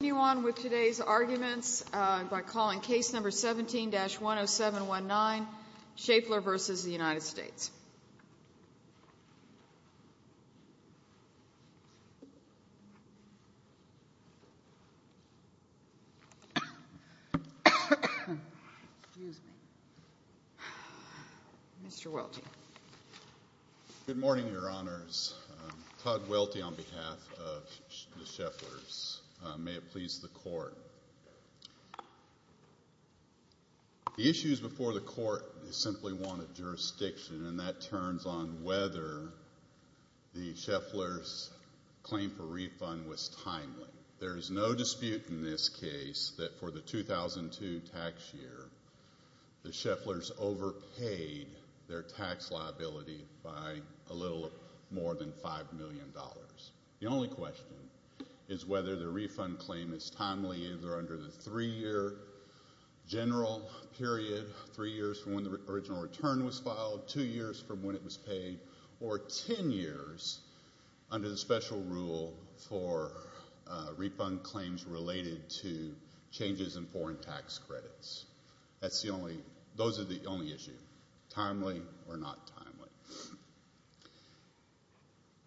Good morning your honors. Todd Welty on behalf of the Schaefflers. May it please the court The issues before the court is simply one of jurisdiction and that turns on whether the Schaefflers claim for refund was timely. There is no dispute in this case that for the 2002 tax year the Schaefflers overpaid their tax liability by a little more than 5 million dollars. The only question is whether the refund claim is timely. Either under the 3 year general period, 3 years from when the original return was filed, 2 years from when it was paid, or 10 years under the special rule for refund claims related to changes in foreign tax credits. Those are the only issues. Timely or not timely.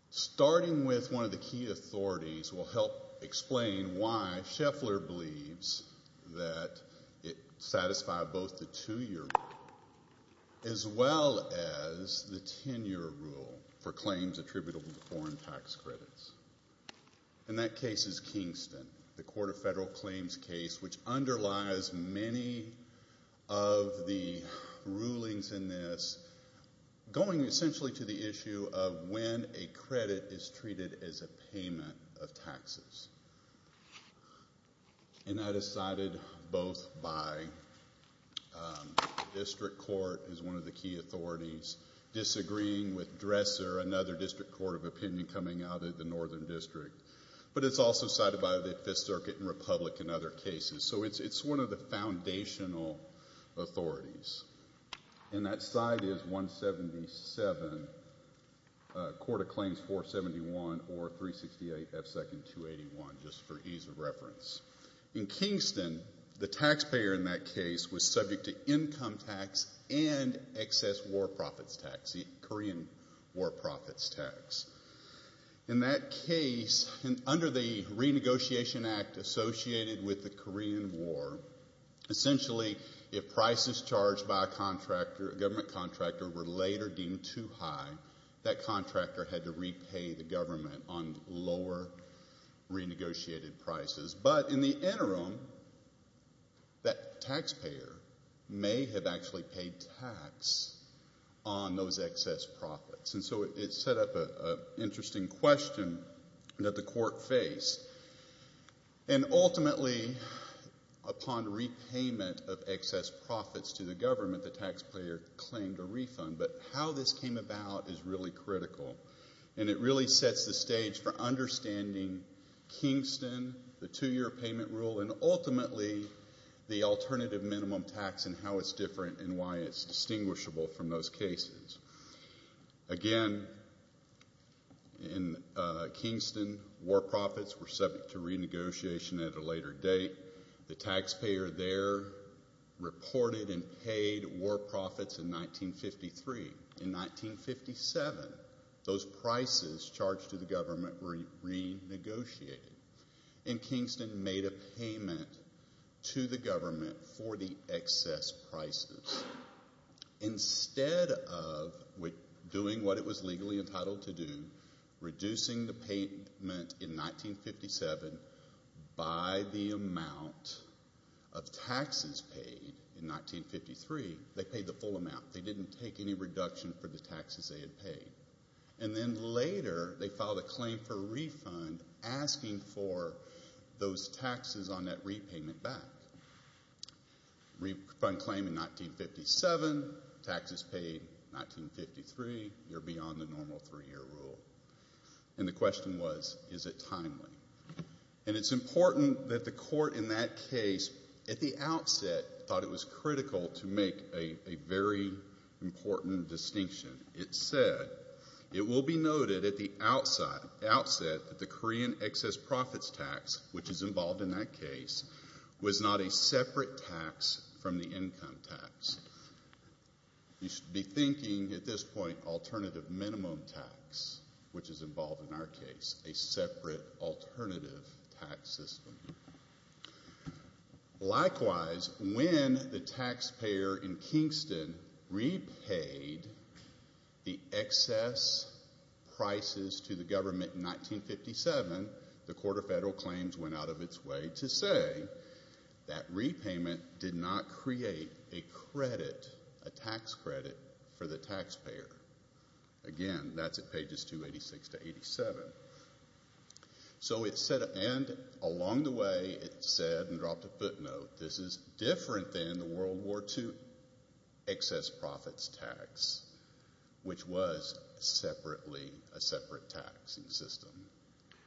Starting with one of the key authorities will help explain why Schaeffler believes that it satisfied both the 2 year rule as well as the 10 year rule for claims attributable to foreign tax credits. And that case is Kingston. The Court of Federal Claims case which underlies many of the rulings in this going essentially to the issue of when a credit is treated as a payment of taxes. And that is cited both by the District Court as one of the key authorities disagreeing with Dresser, another District Court of Opinion coming out of the Northern District. But it's also cited by the 5th Circuit and Republic and other cases. So it's one of the foundational authorities. And that side is 177, Court of Claims 471 or 368 F. Second 281 just for ease of reference. In Kingston, the taxpayer in that case was subject to income tax and excess war profits tax, the Korean war profits tax. In that case, under the renegotiation act associated with the Korean war, essentially if prices charged by a government contractor were later deemed too high, that contractor had to repay the government on lower renegotiated prices. But in the interim, that taxpayer may have actually paid tax on those excess profits. And so it set up an interesting question that the court faced. And ultimately, upon repayment of excess profits to the government, the taxpayer claimed a refund. But how this came about is really critical. And it really sets the stage for understanding Kingston, the two-year payment rule, and ultimately the alternative minimum tax and how it's different and why it's distinguishable from those cases. Again, in Kingston, war profits were subject to renegotiation at a later date. The taxpayer there reported and paid war profits in 1953. In 1957, those prices charged to the government were renegotiated. And Kingston made a payment to the government for the excess prices. Instead of doing what it was legally entitled to do, reducing the payment in 1957 by the amount of taxes paid in 1953, they paid the full amount. They didn't take any reduction for the taxes they had paid. And then later, they filed a claim for a refund asking for those taxes on that repayment back. Refund claim in 1957, taxes paid 1953, you're beyond the normal three-year rule. And the question was, is it timely? And it's important that the court in that case, at the outset, thought it was critical to make a very important distinction. It said, it will be noted at the outset that the Korean excess profits tax, which is involved in that case, was not a separate tax from the income tax. You should be thinking, at this point, alternative minimum tax, which is involved in our case, a separate alternative tax system. Likewise, when the taxpayer in Kingston repaid the excess prices to the government in 1957, the Court of Federal Claims went out of its way to say that repayment did not create a credit, a tax credit, for the taxpayer. Again, that's at pages 286 to 287. So it said, and along the way, it said, and dropped a footnote, this is different than the World War II excess profits tax, which was separately, a separate taxing system.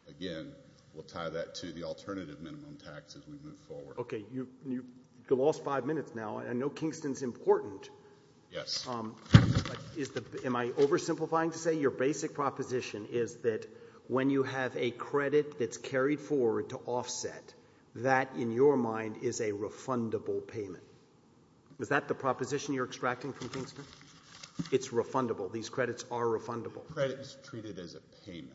Again, we'll tie that to the alternative minimum tax as we move forward. Okay, you lost five minutes now. I know Kingston's important. Yes. Am I oversimplifying to say your basic proposition is that when you have a credit that's carried forward to offset, that, in your mind, is a refundable payment? Is that the proposition you're extracting from Kingston? It's refundable. These credits are refundable. Credit is treated as a payment.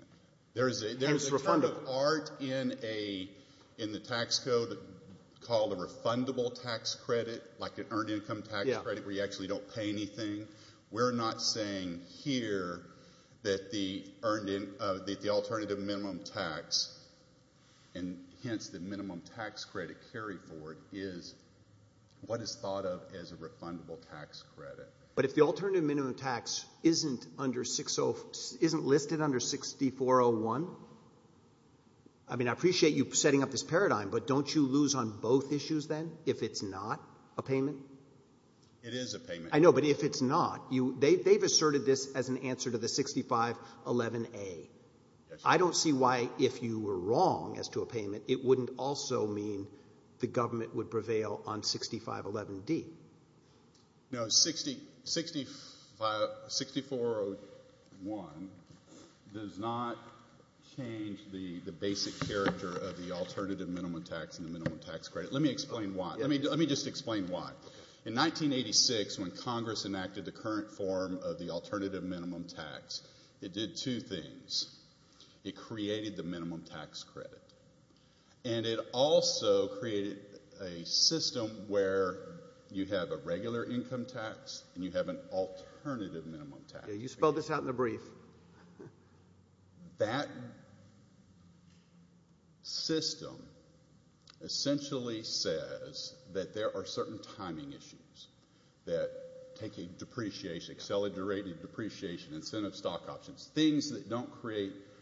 It's refundable. There's a lot of art in the tax code called a refundable tax credit, like an earned income tax credit where you actually don't pay anything. We're not saying here that the alternative minimum tax, and hence the minimum tax credit carried forward, is what is thought of as a refundable tax credit. But if the alternative minimum tax isn't listed under 6401, I mean, I appreciate you setting up this paradigm, but don't you lose on both issues then if it's not a payment? It is a payment. I know, but if it's not, they've asserted this as an answer to the 6511A. I don't see why, if you were wrong as to a payment, it wouldn't also mean the government would prevail on 6511D. No, 6401 does not change the basic character of the alternative minimum tax and the minimum tax credit. Let me explain why. Let me just explain why. In 1986, when Congress enacted the current form of the alternative minimum tax, it did two things. It created the minimum tax credit, and it also created a system where you have a regular income tax and you have an alternative minimum tax. You spelled this out in the brief. That system essentially says that there are certain timing issues that take a depreciation, accelerated depreciation, incentive stock options, things that don't create –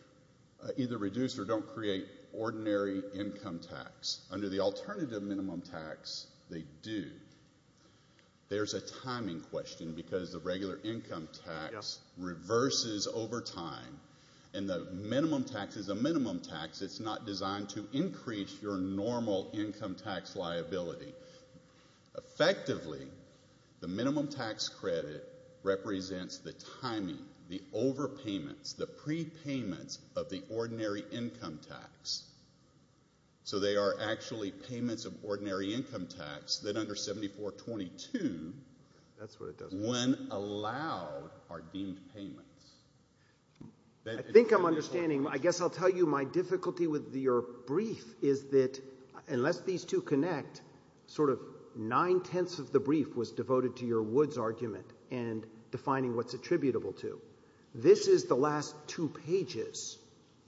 either reduce or don't create ordinary income tax. Under the alternative minimum tax, they do. There's a timing question because the regular income tax reverses over time, and the minimum tax is a minimum tax. It's not designed to increase your normal income tax liability. Effectively, the minimum tax credit represents the timing, the overpayments, the prepayments of the ordinary income tax. So they are actually payments of ordinary income tax that under 7422, when allowed, are deemed payments. I think I'm understanding. I guess I'll tell you my difficulty with your brief is that unless these two connect, sort of nine-tenths of the brief was devoted to your Woods argument and defining what's attributable to. This is the last two pages,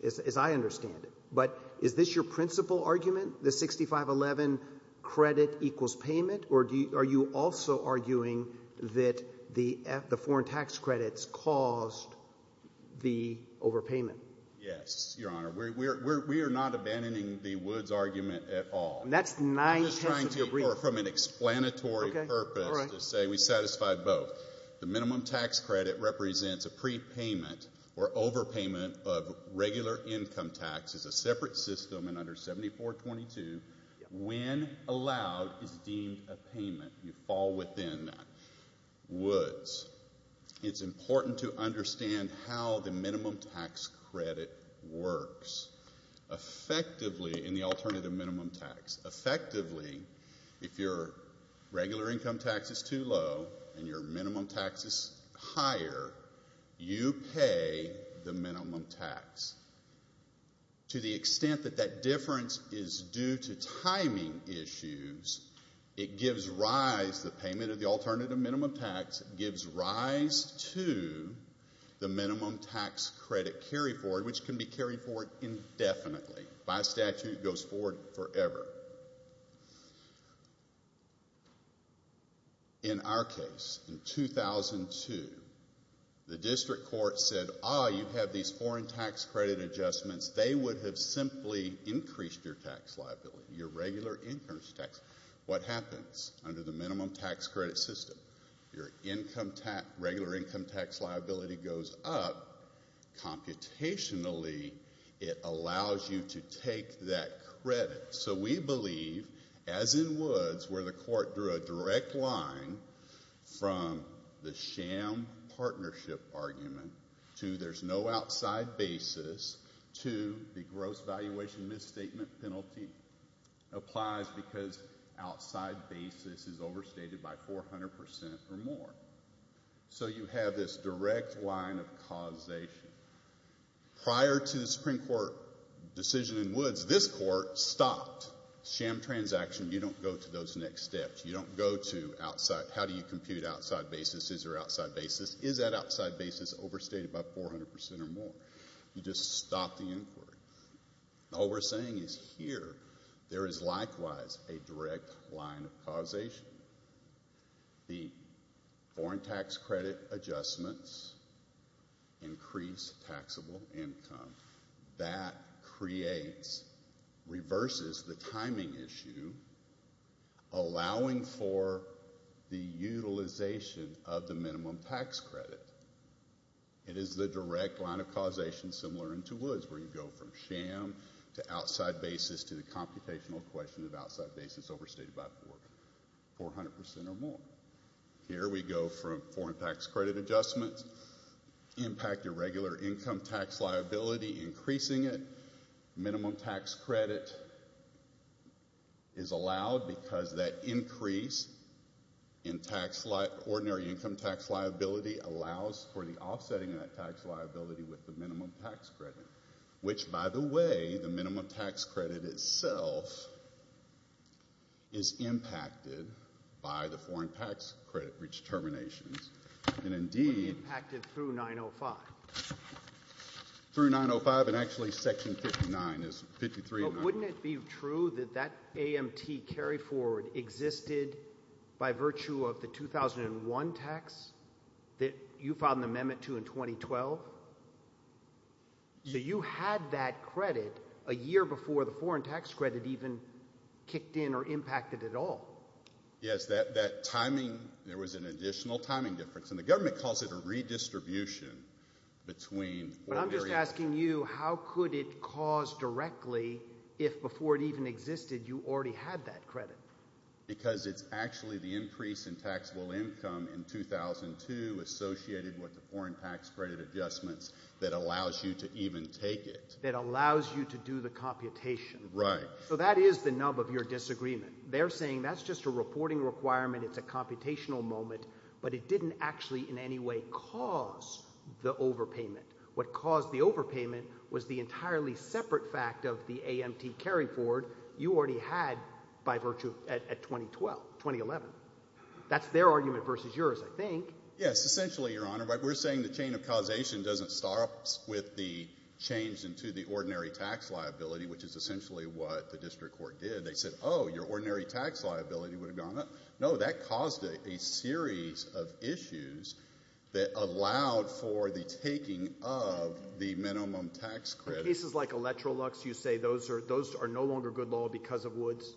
as I understand it. But is this your principal argument, the 6511 credit equals payment, or are you also arguing that the foreign tax credits caused the overpayment? Yes, Your Honor. We are not abandoning the Woods argument at all. That's nine-tenths of your brief. I'm just trying to – or from an explanatory purpose to say we satisfy both. The minimum tax credit represents a prepayment or overpayment of regular income tax as a separate system and under 7422, when allowed, is deemed a payment. You fall within that. Woods, it's important to understand how the minimum tax credit works. Effectively, in the alternative minimum tax, effectively, if your regular income tax is too low and your minimum tax is higher, you pay the minimum tax. To the extent that that difference is due to timing issues, it gives rise – the payment of the alternative minimum tax gives rise to the minimum tax credit carry-forward, which can be carried forward indefinitely. By statute, it goes forward forever. In our case, in 2002, the district court said, ah, you have these foreign tax credit adjustments. They would have simply increased your tax liability, your regular income tax. What happens under the minimum tax credit system? Your income tax – regular income tax liability goes up. Computationally, it allows you to take that credit. So we believe, as in Woods, where the court drew a direct line from the sham partnership argument to there's no outside basis to the gross valuation misstatement penalty applies because outside basis is overstated by 400% or more. So you have this direct line of causation. Prior to the Supreme Court decision in Woods, this court stopped sham transaction. You don't go to those next steps. You don't go to outside – how do you compute outside basis? Is there outside basis? Is that outside basis overstated by 400% or more? You just stop the inquiry. All we're saying is here, there is likewise a direct line of causation. The foreign tax credit adjustments increase taxable income. That creates – reverses the timing issue allowing for the utilization of the minimum tax credit. It is the direct line of causation similar in to Woods where you go from sham to outside basis to the computational question of outside basis overstated by 400% or more. Here we go from foreign tax credit adjustments impact irregular income tax liability, increasing it. It impacted through 905. Through 905 and actually section 59. But wouldn't it be true that that AMT carry forward existed by virtue of the 2001 tax that you filed an amendment to in 2012? You had that credit a year before the foreign tax credit even kicked in or impacted at all. Yes, that timing – there was an additional timing difference. And the government calls it a redistribution between – But I'm just asking you how could it cause directly if before it even existed you already had that credit? Because it's actually the increase in taxable income in 2002 associated with the foreign tax credit adjustments that allows you to even take it. That allows you to do the computation. Right. So that is the nub of your disagreement. They're saying that's just a reporting requirement. It's a computational moment. But it didn't actually in any way cause the overpayment. What caused the overpayment was the entirely separate fact of the AMT carry forward you already had by virtue at 2012, 2011. That's their argument versus yours, I think. Yes, essentially, Your Honor. We're saying the chain of causation doesn't start with the change into the ordinary tax liability, which is essentially what the district court did. They said, oh, your ordinary tax liability would have gone up. No, that caused a series of issues that allowed for the taking of the minimum tax credit. In cases like Electrolux, you say those are no longer good law because of Woods?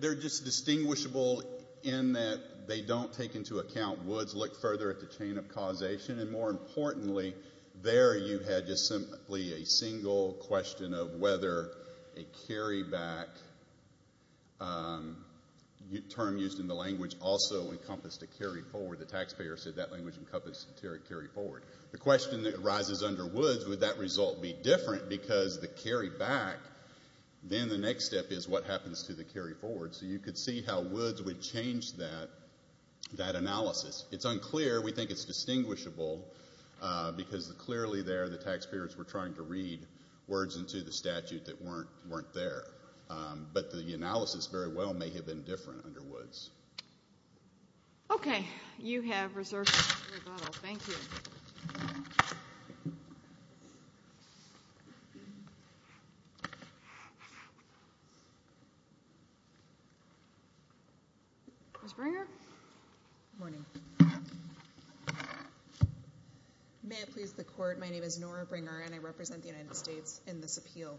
They're just distinguishable in that they don't take into account Woods. Look further at the chain of causation. And more importantly, there you had just simply a single question of whether a carry back term used in the language also encompassed a carry forward. The taxpayer said that language encompassed a carry forward. The question that arises under Woods, would that result be different? Because the carry back, then the next step is what happens to the carry forward. So you could see how Woods would change that analysis. It's unclear. We think it's distinguishable because clearly there the taxpayers were trying to read words into the statute that weren't there. But the analysis very well may have been different under Woods. Okay. You have reserved your rebuttal. Thank you. Ms. Bringer? Good morning. May it please the court, my name is Nora Bringer and I represent the United States in this appeal.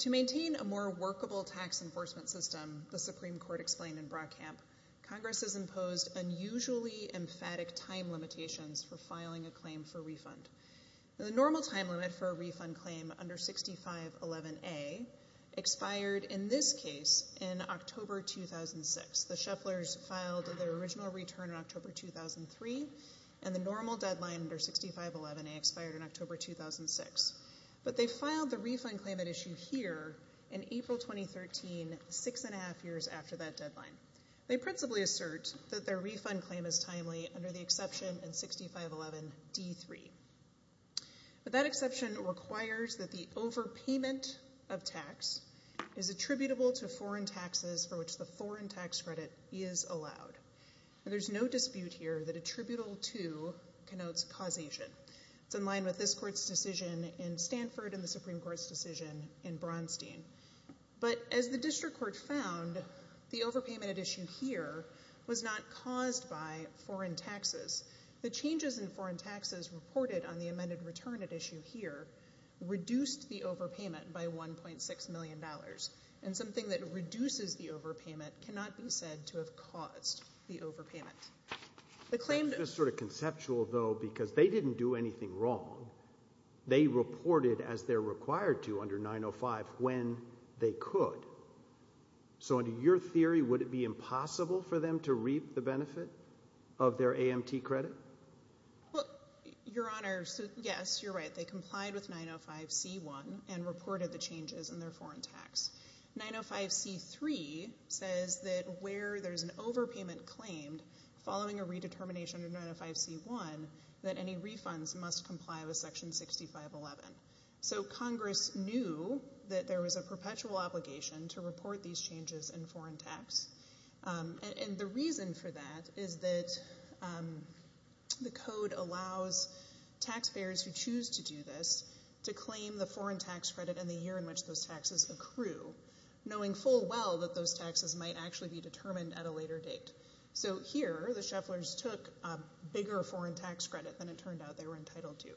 To maintain a more workable tax enforcement system, the Supreme Court explained in Brockamp, Congress has imposed unusually emphatic time limitations for filing a claim for refund. The normal time limit for a refund claim under 6511A expired in this case in October 2006. The Shufflers filed their original return in October 2003 and the normal deadline under 6511A expired in October 2006. But they filed the refund claim at issue here in April 2013, six and a half years after that deadline. They principally assert that their refund claim is timely under the exception in 6511D3. But that exception requires that the overpayment of tax is attributable to foreign taxes for which the foreign tax credit is allowed. And there's no dispute here that attributable to connotes causation. It's in line with this court's decision in Stanford and the Supreme Court's decision in Braunstein. But as the district court found, the overpayment at issue here was not caused by foreign taxes. The changes in foreign taxes reported on the amended return at issue here reduced the overpayment by $1.6 million. And something that reduces the overpayment cannot be said to have caused the overpayment. That's just sort of conceptual, though, because they didn't do anything wrong. They reported as they're required to under 905 when they could. So under your theory, would it be impossible for them to reap the benefit of their AMT credit? Well, Your Honor, yes, you're right. They complied with 905C1 and reported the changes in their foreign tax. 905C3 says that where there's an overpayment claimed following a redetermination of 905C1, that any refunds must comply with Section 6511. So Congress knew that there was a perpetual obligation to report these changes in foreign tax. And the reason for that is that the code allows taxpayers who choose to do this to claim the foreign tax credit in the year in which those taxes accrue, knowing full well that those taxes might actually be determined at a later date. So here the shufflers took a bigger foreign tax credit than it turned out they were entitled to.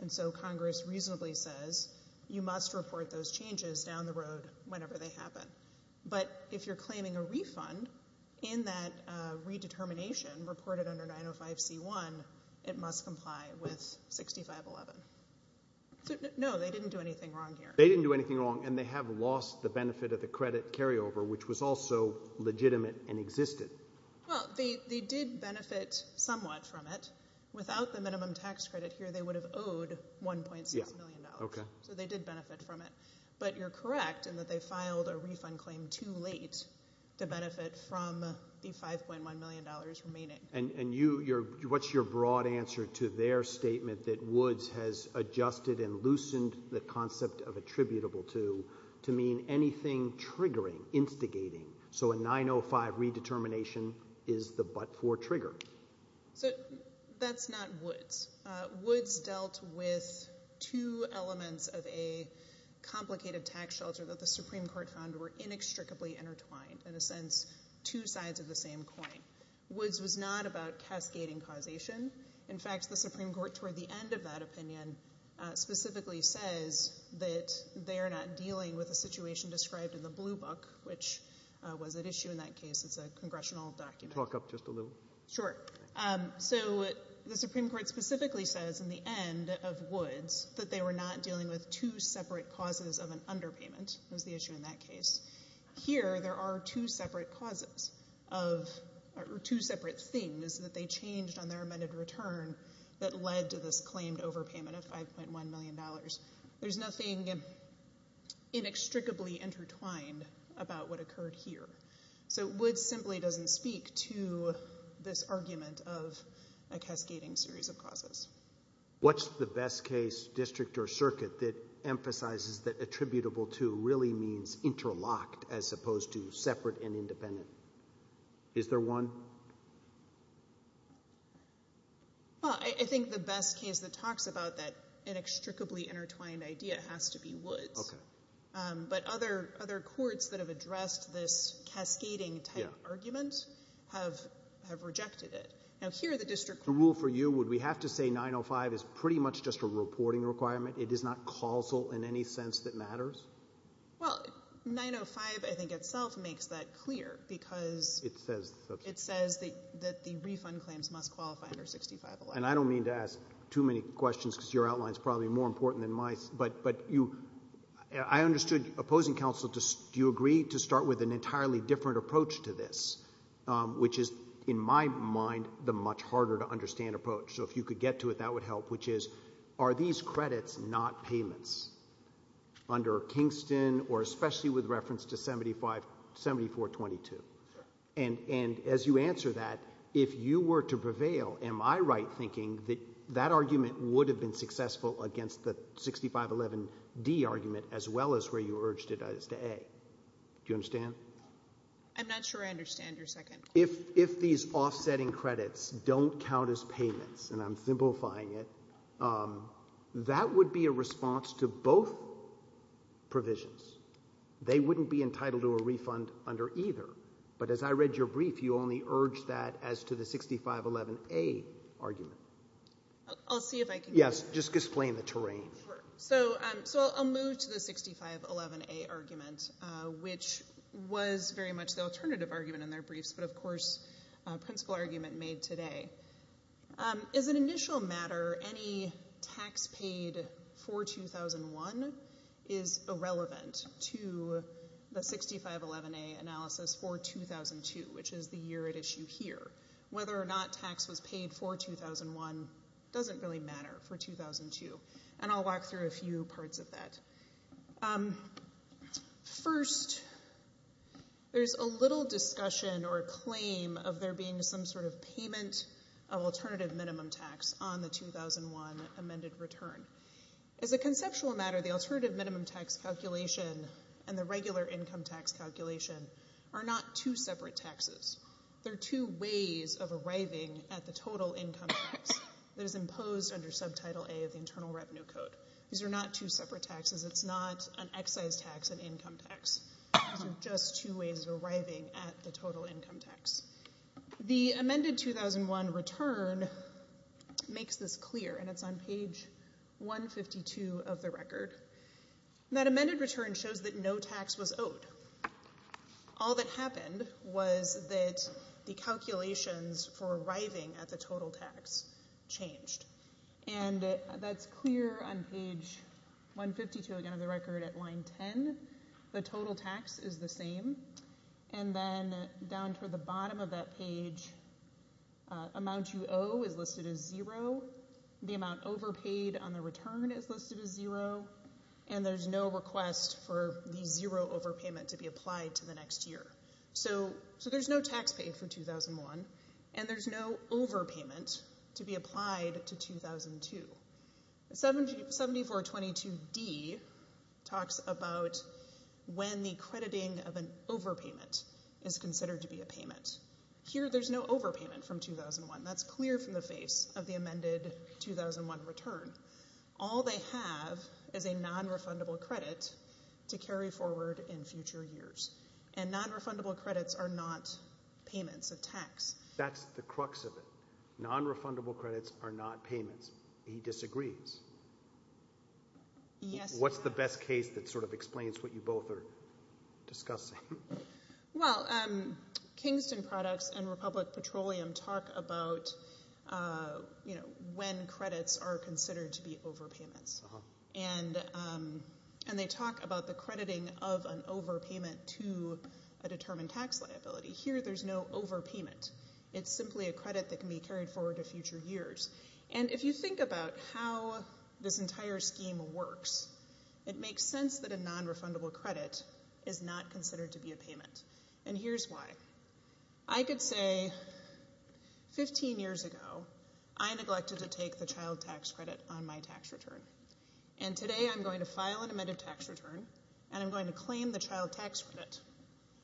And so Congress reasonably says you must report those changes down the road whenever they happen. But if you're claiming a refund in that redetermination reported under 905C1, it must comply with 6511. So no, they didn't do anything wrong here. They didn't do anything wrong, and they have lost the benefit of the credit carryover, which was also legitimate and existed. Well, they did benefit somewhat from it. Without the minimum tax credit here, they would have owed $1.6 million. So they did benefit from it. But you're correct in that they filed a refund claim too late to benefit from the $5.1 million remaining. And what's your broad answer to their statement that Woods has adjusted and loosened the concept of attributable to to mean anything triggering, instigating? So a 905 redetermination is the but-for trigger. So that's not Woods. Woods dealt with two elements of a complicated tax shelter that the Supreme Court found were inextricably intertwined, in a sense two sides of the same coin. Woods was not about cascading causation. In fact, the Supreme Court, toward the end of that opinion, specifically says that they are not dealing with a situation described in the blue book, which was at issue in that case. It's a congressional document. Talk up just a little. Sure. So the Supreme Court specifically says in the end of Woods that they were not dealing with two separate causes of an underpayment. It was the issue in that case. Here there are two separate causes of two separate things that they changed on their amended return that led to this claimed overpayment of $5.1 million. There's nothing inextricably intertwined about what occurred here. So Woods simply doesn't speak to this argument of a cascading series of causes. What's the best case, district or circuit, that emphasizes that attributable to really means interlocked as opposed to separate and independent? Is there one? I think the best case that talks about that inextricably intertwined idea has to be Woods. Okay. But other courts that have addressed this cascading type argument have rejected it. Now here the district court… The rule for you, would we have to say 905 is pretty much just a reporting requirement? It is not causal in any sense that matters? Well, 905 I think itself makes that clear because… It says… It says that the refund claims must qualify under 6511. And I don't mean to ask too many questions because your outline is probably more important than mine. But I understood opposing counsel, do you agree to start with an entirely different approach to this, which is in my mind the much harder to understand approach? So if you could get to it, that would help, which is are these credits not payments under Kingston or especially with reference to 7422? And as you answer that, if you were to prevail, am I right thinking that that argument would have been successful against the 6511D argument as well as where you urged it as to A? Do you understand? I'm not sure I understand your second. If these offsetting credits don't count as payments, and I'm simplifying it, that would be a response to both provisions. They wouldn't be entitled to a refund under either. But as I read your brief, you only urged that as to the 6511A argument. I'll see if I can… Yes, just explain the terrain. So I'll move to the 6511A argument, which was very much the alternative argument in their briefs, but of course a principle argument made today. As an initial matter, any tax paid for 2001 is irrelevant to the 6511A analysis for 2002, which is the year at issue here. Whether or not tax was paid for 2001 doesn't really matter for 2002. And I'll walk through a few parts of that. First, there's a little discussion or claim of there being some sort of payment of alternative minimum tax on the 2001 amended return. As a conceptual matter, the alternative minimum tax calculation and the regular income tax calculation are not two separate taxes. They're two ways of arriving at the total income tax that is imposed under Subtitle A of the Internal Revenue Code. These are not two separate taxes. It's not an excise tax, an income tax. These are just two ways of arriving at the total income tax. The amended 2001 return makes this clear, and it's on page 152 of the record. That amended return shows that no tax was owed. All that happened was that the calculations for arriving at the total tax changed. And that's clear on page 152 again of the record at line 10. The total tax is the same. And then down toward the bottom of that page, amount you owe is listed as zero. The amount overpaid on the return is listed as zero. And there's no request for the zero overpayment to be applied to the next year. So there's no tax paid for 2001, and there's no overpayment to be applied to 2002. 7422D talks about when the crediting of an overpayment is considered to be a payment. Here there's no overpayment from 2001. That's clear from the face of the amended 2001 return. All they have is a nonrefundable credit to carry forward in future years. And nonrefundable credits are not payments of tax. That's the crux of it. Nonrefundable credits are not payments. He disagrees. What's the best case that sort of explains what you both are discussing? Well, Kingston Products and Republic Petroleum talk about, you know, when credits are considered to be overpayments. And they talk about the crediting of an overpayment to a determined tax liability. Here there's no overpayment. It's simply a credit that can be carried forward to future years. And if you think about how this entire scheme works, it makes sense that a nonrefundable credit is not considered to be a payment. And here's why. I could say 15 years ago I neglected to take the child tax credit on my tax return. And today I'm going to file an amended tax return, and I'm going to claim the child tax credit.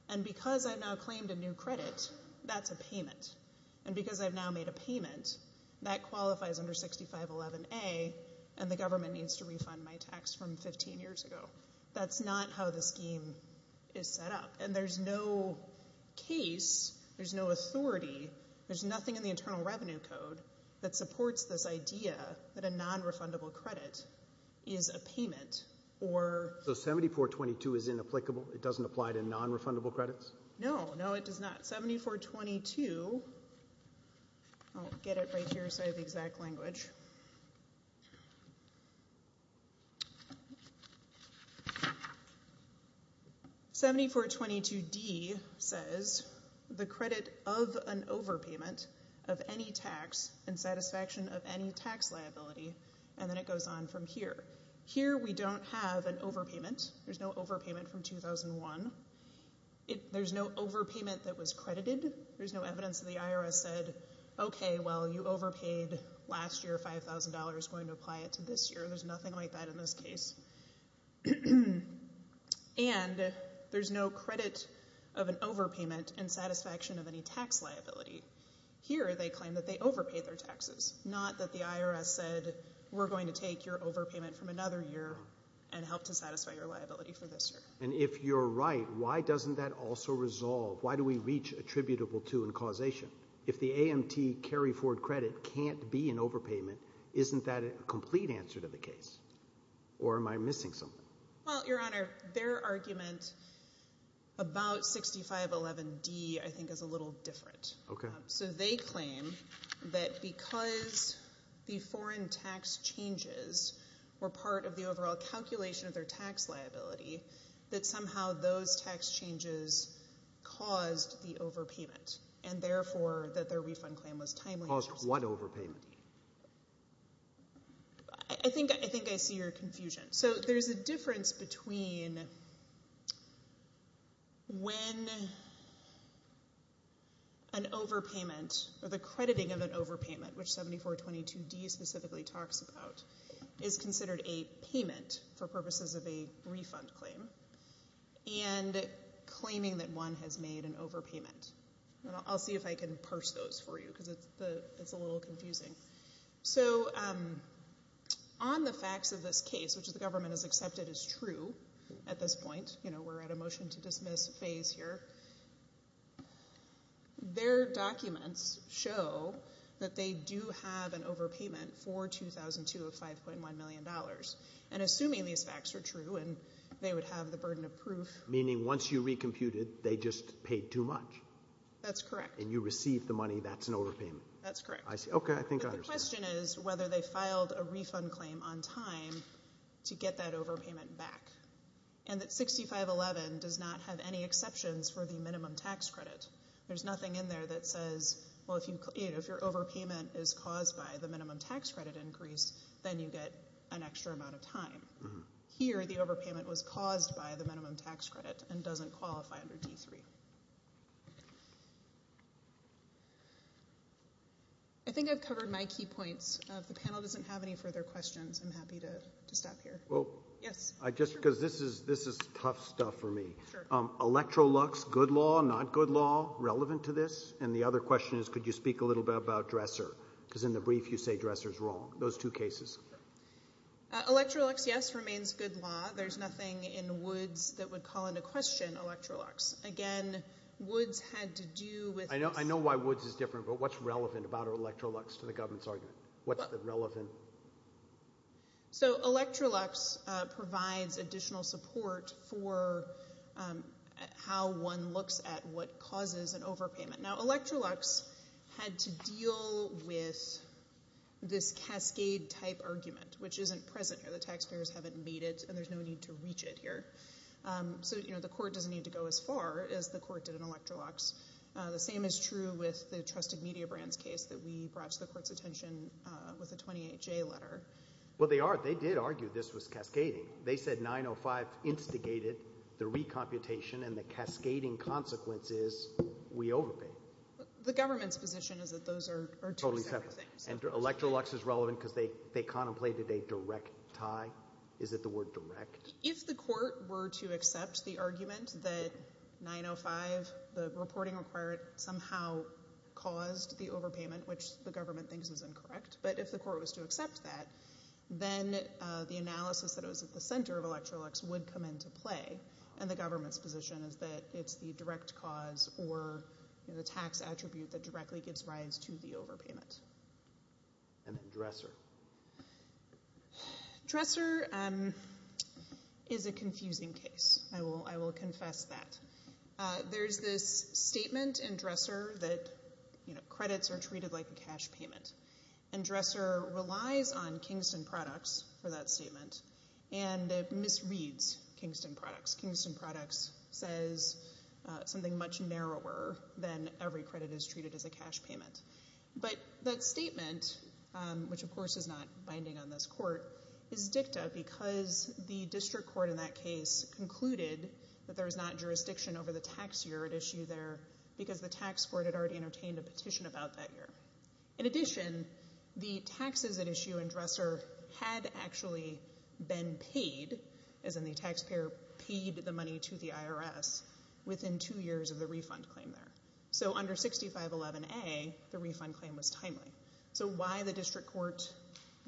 And because I've now claimed a new credit, that's a payment. And because I've now made a payment, that qualifies under 6511A, and the government needs to refund my tax from 15 years ago. That's not how the scheme is set up. And there's no case, there's no authority, there's nothing in the Internal Revenue Code that supports this idea that a nonrefundable credit is a payment. So 7422 is inapplicable? It doesn't apply to nonrefundable credits? No, no, it does not. 7422, I'll get it right here so I have the exact language. 7422D says the credit of an overpayment of any tax in satisfaction of any tax liability, and then it goes on from here. Here we don't have an overpayment. There's no overpayment from 2001. There's no overpayment that was credited. There's no evidence that the IRS said, okay, well, you overpaid last year $5,000, going to apply it to this year. There's nothing like that in this case. And there's no credit of an overpayment in satisfaction of any tax liability. Here they claim that they overpaid their taxes, not that the IRS said we're going to take your overpayment from another year and help to satisfy your liability for this year. And if you're right, why doesn't that also resolve? Why do we reach attributable to and causation? If the AMT carry forward credit can't be an overpayment, isn't that a complete answer to the case? Or am I missing something? Well, Your Honor, their argument about 6511D I think is a little different. Okay. So they claim that because the foreign tax changes were part of the overall calculation of their tax liability, that somehow those tax changes caused the overpayment and therefore that their refund claim was timely. Caused what overpayment? I think I see your confusion. So there's a difference between when an overpayment or the crediting of an overpayment, which 7422D specifically talks about, is considered a payment for purposes of a refund claim and claiming that one has made an overpayment. I'll see if I can parse those for you because it's a little confusing. So on the facts of this case, which the government has accepted as true at this point, you know, we're at a motion to dismiss phase here, their documents show that they do have an overpayment for $2,205.1 million. And assuming these facts are true and they would have the burden of proof. Meaning once you re-computed, they just paid too much. That's correct. And you received the money, that's an overpayment. That's correct. Okay, I think I understand. The question is whether they filed a refund claim on time to get that overpayment back and that 6511 does not have any exceptions for the minimum tax credit. There's nothing in there that says, well, if your overpayment is caused by the minimum tax credit increase, then you get an extra amount of time. Here, the overpayment was caused by the minimum tax credit and doesn't qualify under D3. I think I've covered my key points. If the panel doesn't have any further questions, I'm happy to stop here. This is tough stuff for me. Electrolux, good law, not good law, relevant to this? And the other question is, could you speak a little bit about Dresser? Because in the brief you say Dresser is wrong. Those two cases. Electrolux, yes, remains good law. There's nothing in Woods that would call into question Electrolux. Again, Woods had to do with this. I know why Woods is different, but what's relevant about Electrolux to the government's argument? What's relevant? Electrolux provides additional support for how one looks at what causes an overpayment. Electrolux had to deal with this cascade-type argument, which isn't present here. The taxpayers haven't made it, and there's no need to reach it here. The court doesn't need to go as far as the court did in Electrolux. The same is true with the Trusted Media Brands case that we brought to the court's attention with the 28-J letter. Well, they did argue this was cascading. They said 905 instigated the recomputation, and the cascading consequence is we overpaid. The government's position is that those are two separate things. Electrolux is relevant because they contemplated a direct tie. Is it the word direct? If the court were to accept the argument that 905, the reporting required, somehow caused the overpayment, which the government thinks is incorrect, but if the court was to accept that, then the analysis that it was at the center of Electrolux would come into play, and the government's position is that it's the direct cause or the tax attribute that directly gives rise to the overpayment. And Dresser? Dresser is a confusing case. I will confess that. There's this statement in Dresser that credits are treated like a cash payment, and Dresser relies on Kingston Products for that statement, and it misreads Kingston Products. Kingston Products says something much narrower than every credit is treated as a cash payment. But that statement, which of course is not binding on this court, is dicta because the district court in that case concluded that there is not jurisdiction over the tax year at issue there because the tax court had already entertained a petition about that year. In addition, the taxes at issue in Dresser had actually been paid, as in the taxpayer paid the money to the IRS, within two years of the refund claim there. So under 6511A, the refund claim was timely. So why the district court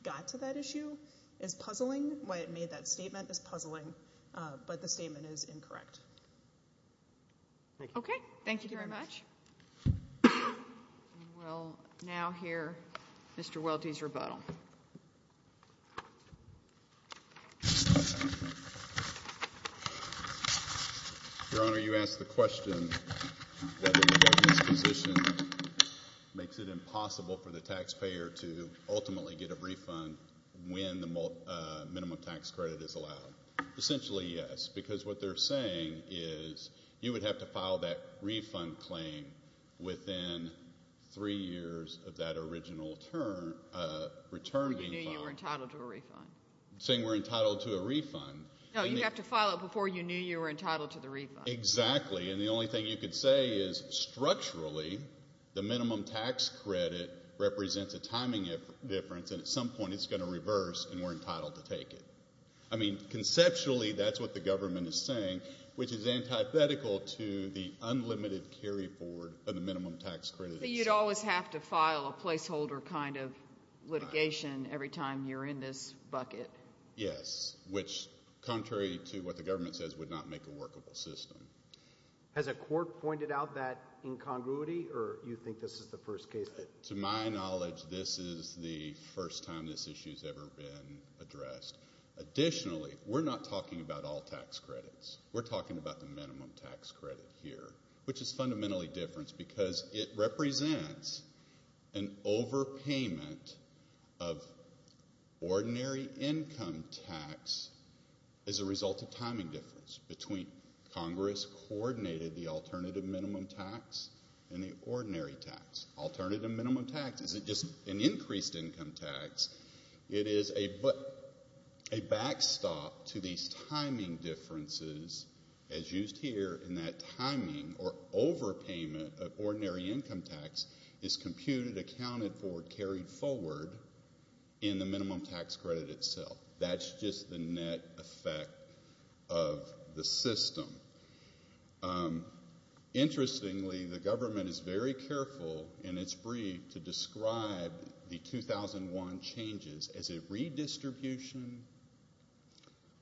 got to that issue is puzzling. Why it made that statement is puzzling. But the statement is incorrect. Okay. Thank you very much. We'll now hear Mr. Welty's rebuttal. Your Honor, you asked the question whether the judge's position makes it impossible for the taxpayer to ultimately get a refund when the minimum tax credit is allowed. Essentially, yes, because what they're saying is you would have to file that refund claim within three years of that original return being filed. When you knew you were entitled to a refund. I'm saying we're entitled to a refund. No, you'd have to file it before you knew you were entitled to the refund. Exactly. And the only thing you could say is structurally the minimum tax credit represents a timing difference and at some point it's going to reverse and we're entitled to take it. I mean, conceptually, that's what the government is saying, which is antithetical to the unlimited carry forward of the minimum tax credit. You'd always have to file a placeholder kind of litigation every time you're in this bucket. Yes, which contrary to what the government says would not make a workable system. Has a court pointed out that incongruity or you think this is the first case? To my knowledge, this is the first time this issue has ever been addressed. Additionally, we're not talking about all tax credits. We're talking about the minimum tax credit here, which is fundamentally different because it represents an overpayment of ordinary income tax as a result of timing difference between Congress coordinated the alternative minimum tax and the ordinary tax. Alternative minimum tax isn't just an increased income tax. It is a backstop to these timing differences as used here in that timing or overpayment of ordinary income tax is computed, accounted for, carried forward in the minimum tax credit itself. That's just the net effect of the system. Interestingly, the government is very careful in its brief to describe the 2001 changes as a redistribution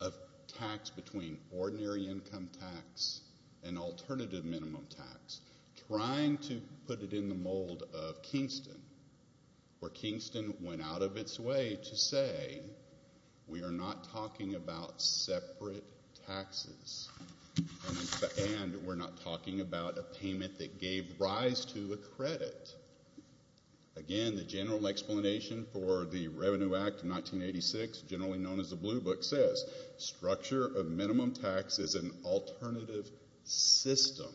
of tax between ordinary income tax and alternative minimum tax, where Kingston went out of its way to say we are not talking about separate taxes and we're not talking about a payment that gave rise to a credit. Again, the general explanation for the Revenue Act of 1986, generally known as the Blue Book, says structure of minimum tax is an alternative system.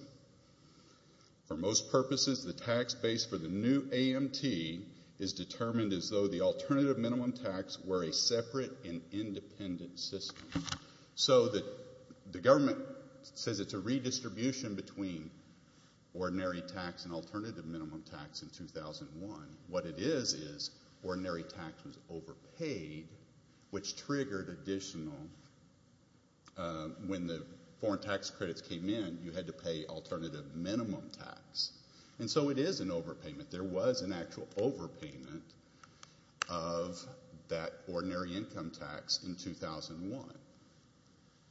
For most purposes, the tax base for the new AMT is determined as though the alternative minimum tax were a separate and independent system. So the government says it's a redistribution between ordinary tax and alternative minimum tax in 2001. What it is is ordinary tax was overpaid, which triggered additional, when the foreign tax credits came in, you had to pay alternative minimum tax. And so it is an overpayment. There was an actual overpayment of that ordinary income tax in 2001.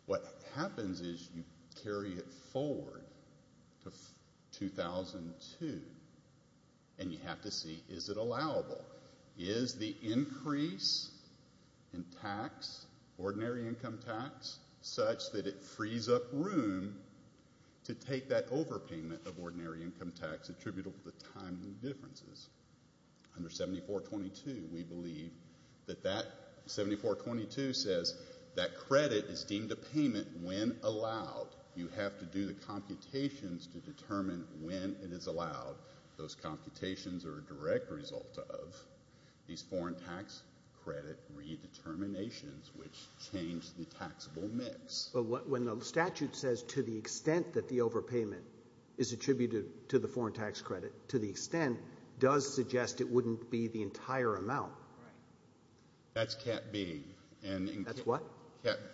What happens is you carry it forward to 2002, and you have to see is it allowable. Is the increase in tax, ordinary income tax, such that it frees up room to take that overpayment of ordinary income tax attributable to the time differences? Under 7422, we believe that that, 7422 says that credit is deemed a payment when allowed. You have to do the computations to determine when it is allowed. Those computations are a direct result of these foreign tax credit redeterminations, which change the taxable mix. But when the statute says to the extent that the overpayment is attributed to the foreign tax credit, to the extent does suggest it wouldn't be the entire amount. Right. That's cap B. That's what?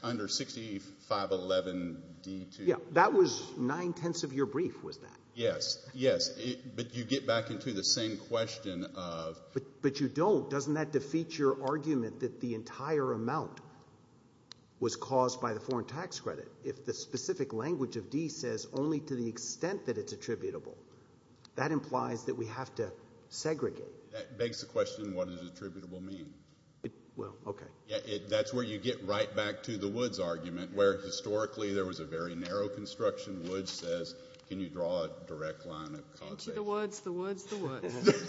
Under 6511D2. Yeah, that was nine-tenths of your brief, was that? Yes, yes. But you get back into the same question of... But you don't. Doesn't that defeat your argument that the entire amount was caused by the foreign tax credit? If the specific language of D says only to the extent that it's attributable, that implies that we have to segregate. That begs the question, what does attributable mean? Well, okay. That's where you get right back to the Woods argument, where historically there was a very narrow construction. Woods says, can you draw a direct line of causation? The Woods, the Woods, the Woods.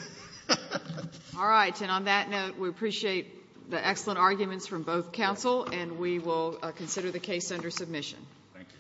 All right. And on that note, we appreciate the excellent arguments from both counsel, and we will consider the case under submission. Thank you.